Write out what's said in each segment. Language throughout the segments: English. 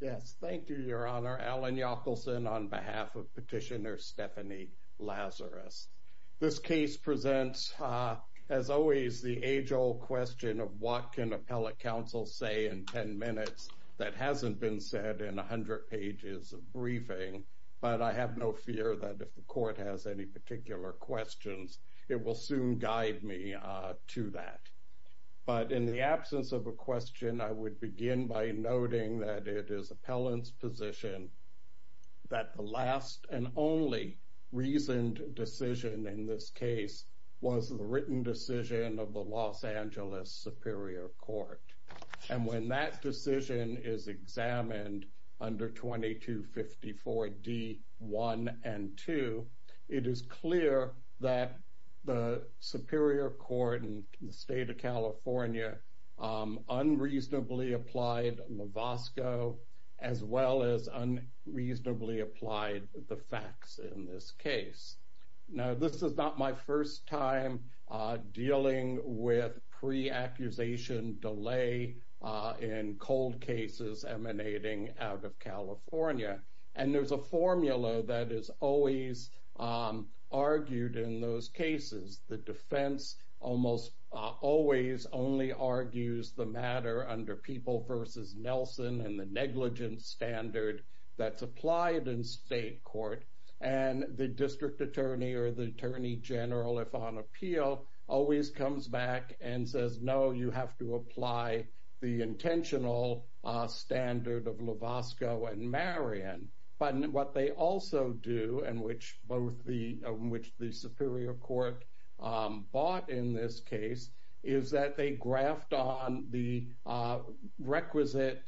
Yes, thank you, Your Honor. Alan Yockelson on behalf of petitioner Stephanie Lazarus. This case presents, as always, the age-old question of what can appellate counsel say in 10 minutes that hasn't been said in 100 pages of briefing. But I have no fear that if the court has any particular questions, it will soon guide me to that. But in the absence of a question, I would begin by noting that it is appellant's position that the last and only reasoned decision in this case was the written decision of the Los Angeles Superior Court. And when that decision is examined under 2254 D1 and 2, it is clear that the Superior Court in the applied Mavosco as well as unreasonably applied the facts in this case. Now, this is not my first time dealing with pre-accusation delay in cold cases emanating out of California. And there's a formula that is always argued in those cases. The defense almost always only argues the matter under People v. Nelson and the negligence standard that's applied in state court. And the district attorney or the attorney general, if on appeal, always comes back and says, no, you have to apply the intentional standard of Lovasco and Marion. But what they also do and which both the Superior Court bought in this case is that they graft on the requisite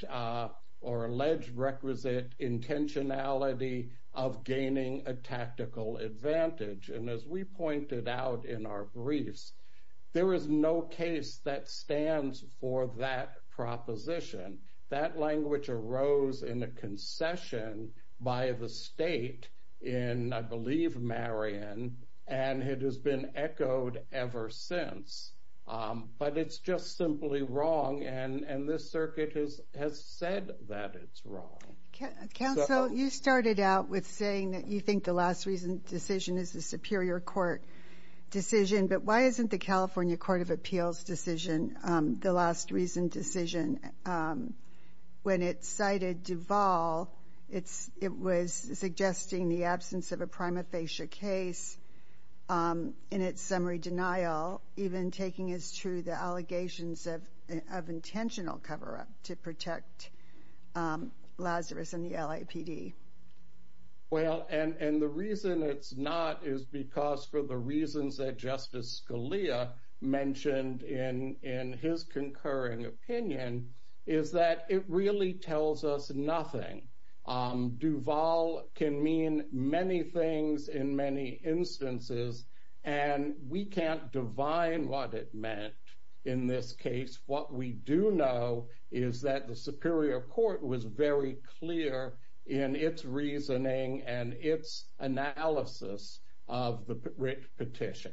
or alleged requisite intentionality of gaining a tactical advantage. And as we pointed out in our briefs, there is no case that stands for that proposition. That language arose in a session by the state in, I believe, Marion. And it has been echoed ever since. But it's just simply wrong. And this circuit has said that it's wrong. Counsel, you started out with saying that you think the last reason decision is the Superior Court decision. But why isn't the California Court of Appeals decision the last reason decision? When it cited Duvall, it was suggesting the absence of a prima facie case in its summary denial, even taking as true the allegations of intentional cover-up to protect Lazarus and the LAPD. Well, and the reason it's not is because for the reasons that Justice Scalia mentioned in his concurring opinion is that it really tells us nothing. Duvall can mean many things in many instances. And we can't divine what it meant in this case. What we do know is that the Superior Court was very clear in its reasoning and its analysis of the writ petition.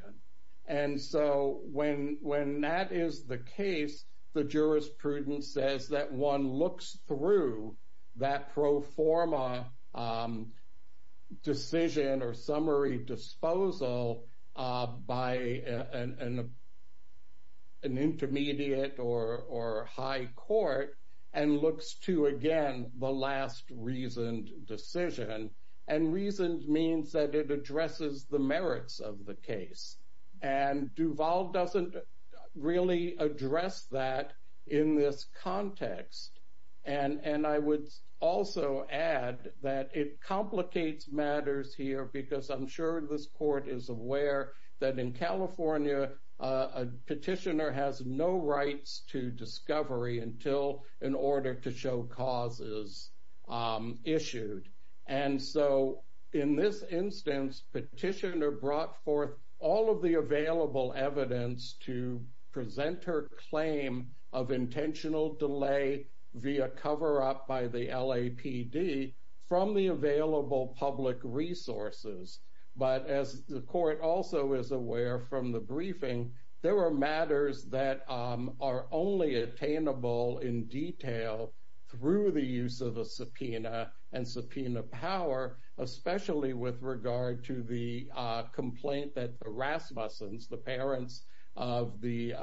And so when that is the case, the jurisprudence says that one looks through that pro forma decision or summary disposal by an intermediate or high court and looks to, again, the last reasoned decision. And reasoned means that it addresses the merits of the case. And Duvall doesn't really address that in this context. And I would also add that it complicates matters here because I'm sure this court is aware that in California, a petitioner has no rights to discovery until an order to show cause is issued. And so in this instance, petitioner brought forth all of the available evidence to present her claim of intentional delay via cover-up by the LAPD from the available public resources. But as the court also is aware from the briefing, there were matters that are only attainable in detail through the use of a subpoena and subpoena power, especially with regard to the complaint that the Rasmussens, the parents of the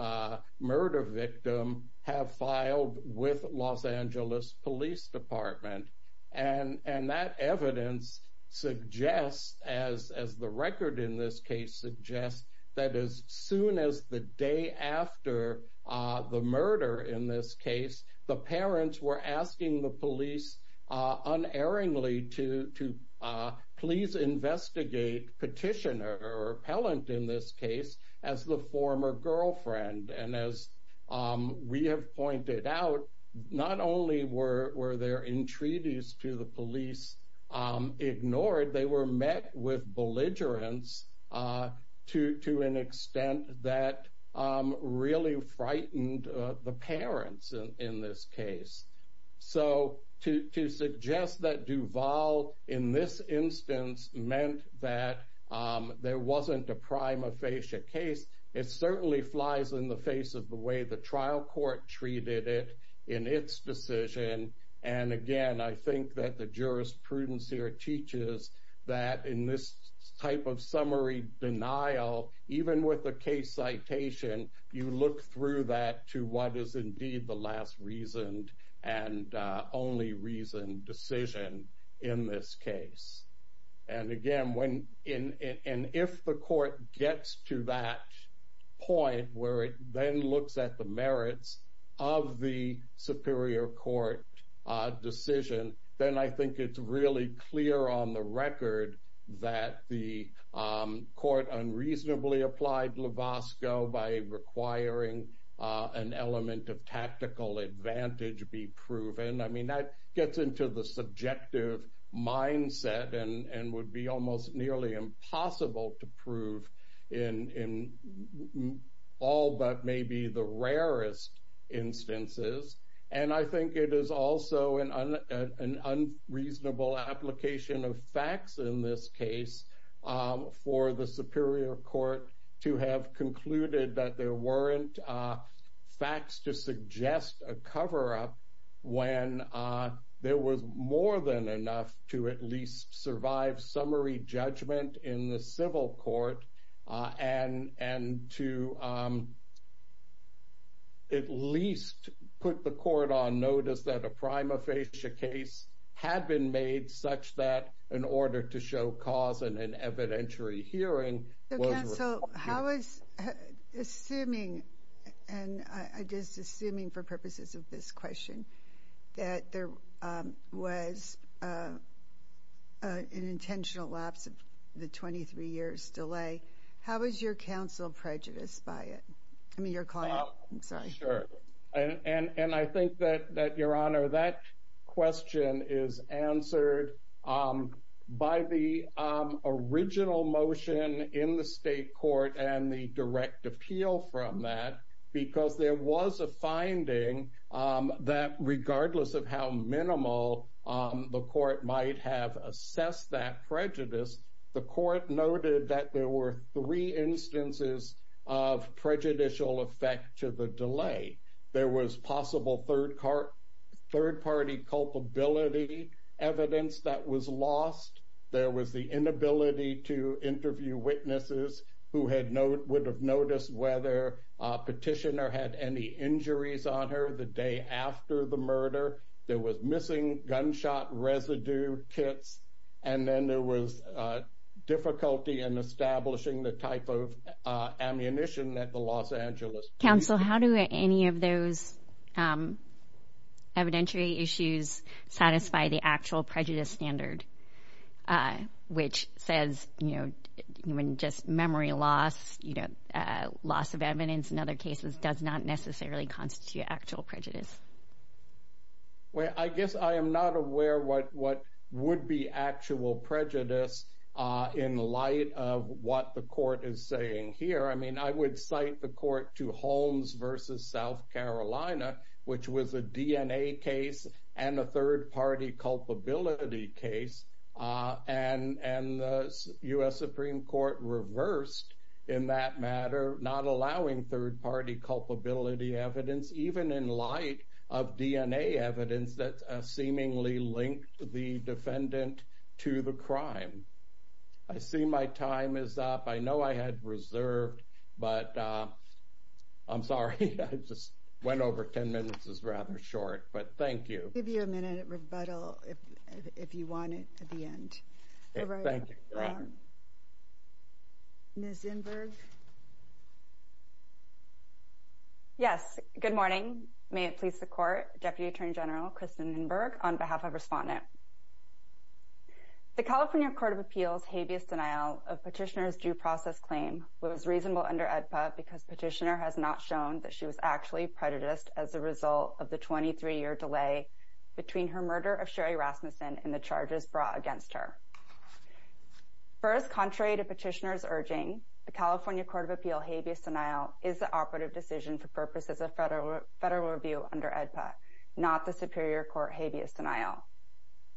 murder victim, have filed with Los Angeles Police Department. And that evidence suggests, as the record in this case suggests, that as soon as the day after the murder in this case, the parents were asking the police unerringly to please investigate petitioner or appellant in this case as the former girlfriend. And as we have pointed out, not only were there entreaties to the police ignored, they were met with belligerence to an extent that really frightened the parents in this case. So to suggest that Duval in this instance meant that there wasn't a prima facie case, it certainly flies in the face of the way the trial court treated it in its decision. And again, I think that the jurisprudence here teaches that in this type of summary denial, even with the case citation, you look through that to what is indeed the last reasoned and only reasoned decision in this case. And again, if the court gets to that point where it then looks at the merits of the superior court decision, then I think it's really clear on the record that the court unreasonably applied Lovasco by requiring an element of tactical advantage be proven. I mean, that gets into the subjective mindset and would be almost nearly impossible to prove in all but maybe the rarest instances. And I think it is also an unreasonable application of facts in this case for the superior court to have concluded that there weren't facts to suggest a cover-up when there was more than enough to at least survive summary judgment in the civil court, and to at least put the court on notice that a prima facie case had been made such that in order to show cause in an evidentiary hearing... I was assuming, and I'm just assuming for purposes of this question, that there was an intentional lapse of the 23 years delay. How is your counsel prejudiced by it? I mean, your client. I'm sorry. I don't understand the direct appeal from that because there was a finding that regardless of how minimal the court might have assessed that prejudice, the court noted that there were three instances of prejudicial effect to the delay. There was possible third party culpability evidence that was lost. There was the inability to interview witnesses who would have noticed whether a petitioner had any injuries on her the day after the murder. There was missing gunshot residue kits. And then there was difficulty in establishing the type of ammunition that the Los Angeles... And just memory loss, loss of evidence in other cases does not necessarily constitute actual prejudice. Well, I guess I am not aware what would be actual prejudice in light of what the court is saying here. I mean, I would cite the court to Holmes versus South Carolina, which was a DNA case and a third party culpability case. And the U.S. Supreme Court reversed in that matter, not allowing third party culpability evidence, even in light of DNA evidence that seemingly linked the defendant to the crime. I see my time is up. I know I had reserved, but I'm sorry. I just went over 10 minutes is rather short, but thank you. I'll give you a minute of rebuttal if you want it at the end. Thank you. Ms. Inberg. Yes, good morning. May it please the court. Deputy Attorney General Kristen Inberg on behalf of Respondent. The California Court of Appeals habeas denial of petitioner's due process claim was reasonable under AEDPA because petitioner has not shown that she was actually prejudiced as a result of the 23 year delay. Between her murder of Sherry Rasmussen and the charges brought against her. First, contrary to petitioners urging the California Court of Appeal habeas denial is the operative decision for purposes of federal federal review under AEDPA, not the Superior Court habeas denial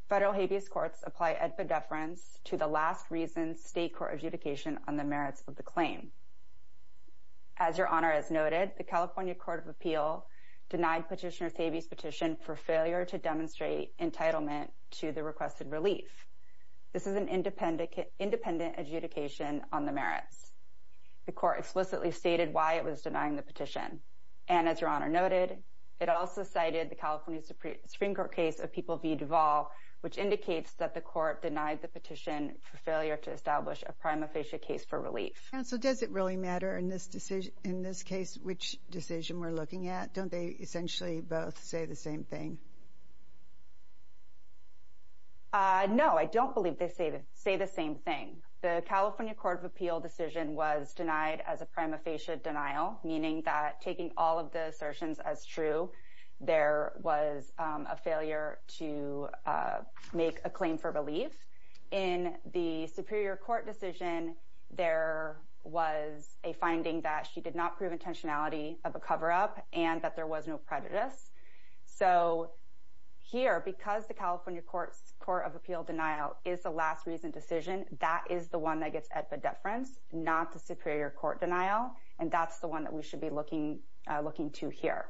federal habeas courts apply at the deference to the last reason state court adjudication on the merits of the claim. As your honor, as noted, the California Court of Appeal denied petitioner's habeas petition for failure to demonstrate entitlement to the requested relief. This is an independent independent adjudication on the merits. The court explicitly stated why it was denying the petition and as your honor noted, it also cited the California Supreme Court case of people be devolved, which indicates that the court denied the petition for failure to establish a prima facie case for relief. So does it really matter in this decision in this case, which decision we're looking at? Don't they essentially both say the same thing? No, I don't believe they say they say the same thing. The California Court of Appeal decision was denied as a prima facie denial, meaning that taking all of the assertions as true. There was a failure to make a claim for relief in the Superior Court decision. There was a finding that she did not prove intentionality of a cover up and that there was no prejudice. So here, because the California Courts Court of Appeal denial is the last reason decision, that is the one that gets at the deference, not the Superior Court denial. And that's the one that we should be looking looking to hear.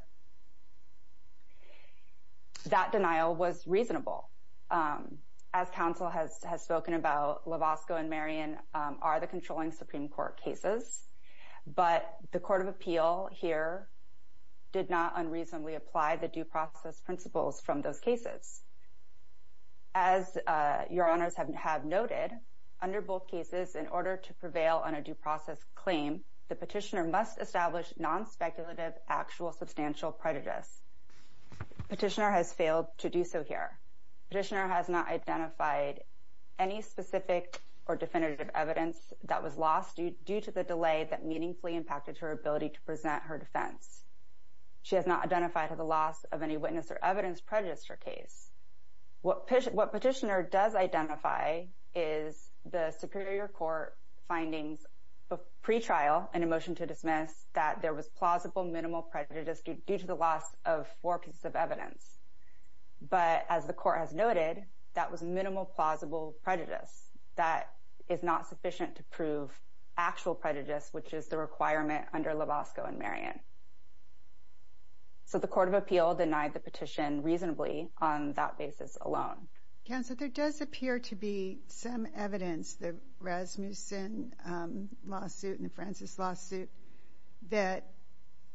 That denial was reasonable. As counsel has spoken about, Lovasco and Marion are the controlling Supreme Court cases, but the Court of Appeal here did not unreasonably apply the due process principles from those cases. As your honors have noted, under both cases, in order to prevail on a due process claim, the petitioner must establish non-speculative actual substantial prejudice. Petitioner has failed to do so here. Petitioner has not identified any specific or definitive evidence that was lost due to the delay that meaningfully impacted her ability to present her defense. She has not identified the loss of any witness or evidence prejudiced her case. What petitioner does identify is the Superior Court findings of pre-trial and a motion to dismiss that there was plausible minimal prejudice due to the loss of four pieces of evidence. But as the Court has noted, that was minimal plausible prejudice. That is not sufficient to prove actual prejudice, which is the requirement under Lovasco and Marion. So the Court of Appeal denied the petition reasonably on that basis alone. Counsel, there does appear to be some evidence, the Rasmussen lawsuit and the Francis lawsuit, that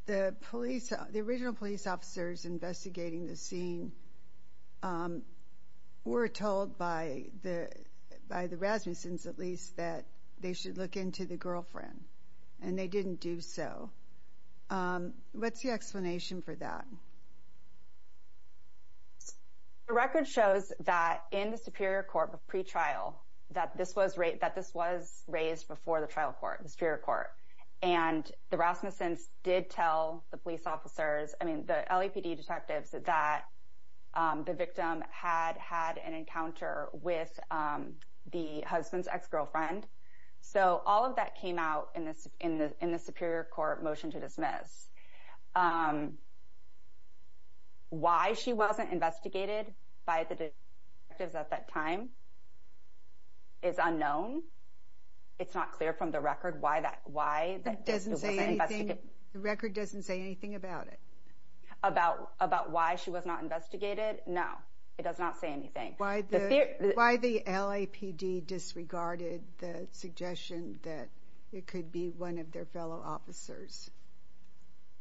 the police, the original police officers investigating the scene were told by the Rasmussen's, at least, that they should look into the girlfriend and they didn't do so. What's the explanation for that? The record shows that in the Superior Court of pre-trial, that this was raised before the trial court, the Superior Court, and the Rasmussen's did tell the police officers, I mean, the LAPD detectives, that the victim had had an encounter with the husband's ex-girlfriend. So all of that came out in the Superior Court motion to dismiss. Why she wasn't investigated by the detectives at that time is unknown. It's not clear from the record why that, why that doesn't say anything. The record doesn't say anything about it? About why she was not investigated? No, it does not say anything. Why the LAPD disregarded the suggestion that it could be one of their fellow officers?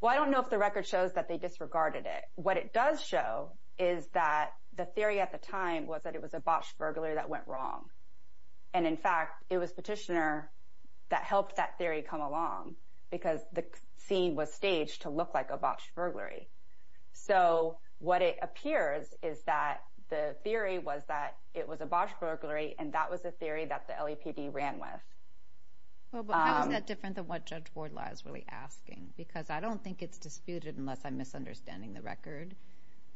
Well, I don't know if the record shows that they disregarded it. What it does show is that the theory at the time was that it was a botched burglary that went wrong. And in fact, it was Petitioner that helped that theory come along because the scene was staged to look like a botched burglary. So what it appears is that the theory was that it was a botched burglary and that was a theory that the LAPD ran with. Well, but how is that different than what Judge Wardlaw is really asking? Because I don't think it's disputed, unless I'm misunderstanding the record,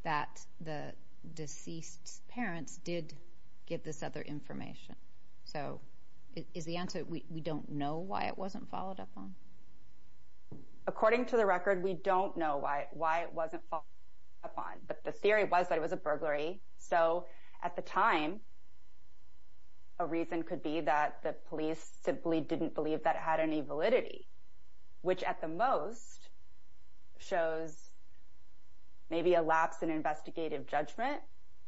that the deceased's parents did give this other information. So is the answer we don't know why it wasn't followed up on? According to the record, we don't know why it wasn't followed up on. But the theory was that it was a burglary. So at the time, a reason could be that the police simply didn't believe that it had any validity, which at the most shows maybe a lapse in investigative judgment.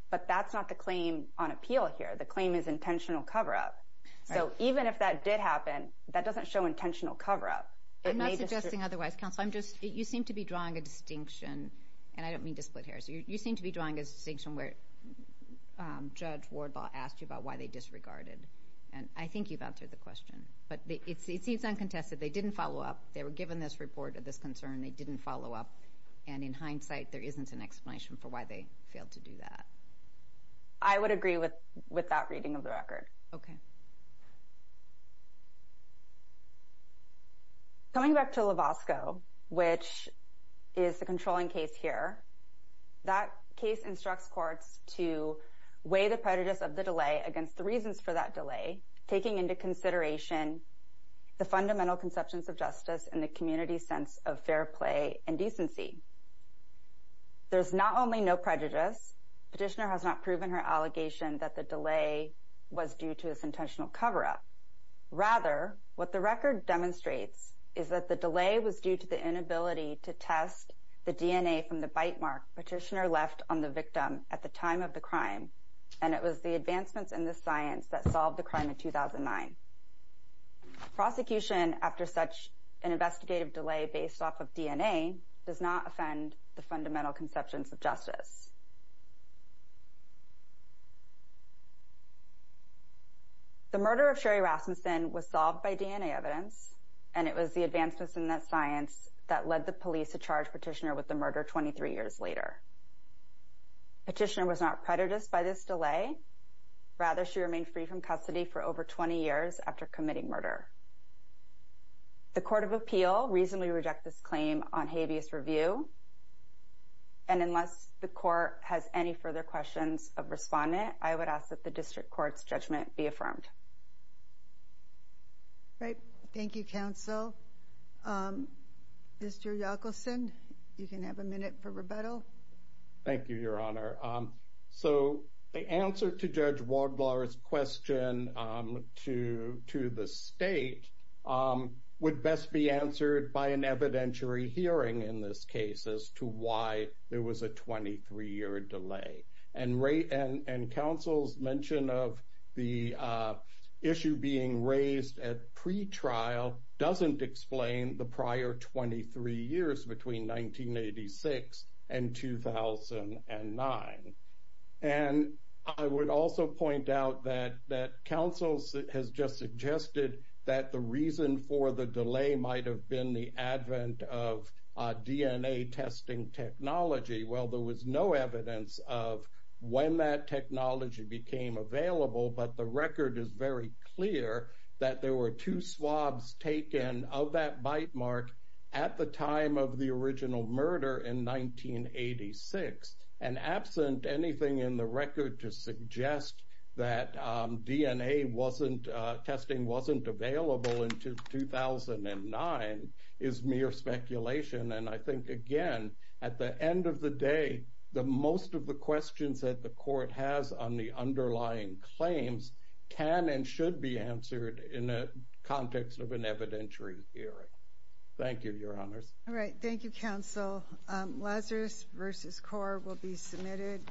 But that's not the claim on appeal here. The claim is intentional cover-up. So even if that did happen, that doesn't show intentional cover-up. I'm not suggesting otherwise, counsel. I'm just, you seem to be drawing a distinction. And I don't mean to split hairs. You seem to be drawing a distinction where Judge Wardlaw asked you about why they disregarded. And I think you've answered the question. But it seems uncontested. They didn't follow up. They were given this report of this concern. They didn't follow up. And in hindsight, there isn't an explanation for why they failed to do that. I would agree with that reading of the record. Okay. Coming back to Lovasco, which is the controlling case here, that case instructs courts to weigh the prejudice of the delay against the reasons for that delay, taking into consideration the fundamental conceptions of justice and the community's sense of fair play and decency. There's not only no prejudice, Petitioner has not proven her allegation that the delay was due to this intentional cover-up. Rather, what the record demonstrates is that the delay was due to the inability to test the DNA from the bite mark Petitioner left on the victim at the time of the crime. And it was the advancements in this science that solved the crime in 2009. Prosecution, after such an investigative delay based off of DNA, does not offend the fundamental conceptions of justice. The murder of Sherry Rasmussen was solved by DNA evidence, and it was the advancements in that science that led the police to charge Petitioner with the murder 23 years later. Petitioner was not prejudiced by this delay. Rather, she remained free from custody for over 20 years after committing murder. The Court of Appeal reasonably reject this claim on habeas review. Has any further questions of respondent? I would ask that the district court's judgment be affirmed. Right. Thank you, counsel. Mr. Yockelson, you can have a minute for rebuttal. Thank you, Your Honor. So the answer to Judge Waldlauer's question to the state would best be answered by an 23-year delay. And counsel's mention of the issue being raised at pretrial doesn't explain the prior 23 years between 1986 and 2009. And I would also point out that counsel has just suggested that the reason for the delay might have been the advent of DNA testing technology. Well, there was no evidence of when that technology became available. But the record is very clear that there were two swabs taken of that bite mark at the time of the original murder in 1986. And absent anything in the record to suggest that DNA testing wasn't available until 2009 is mere speculation. And I think, again, at the end of the day, most of the questions that the court has on the underlying claims can and should be answered in the context of an evidentiary hearing. Thank you, Your Honors. All right. Thank you, counsel. Lazarus v. Core will be submitted.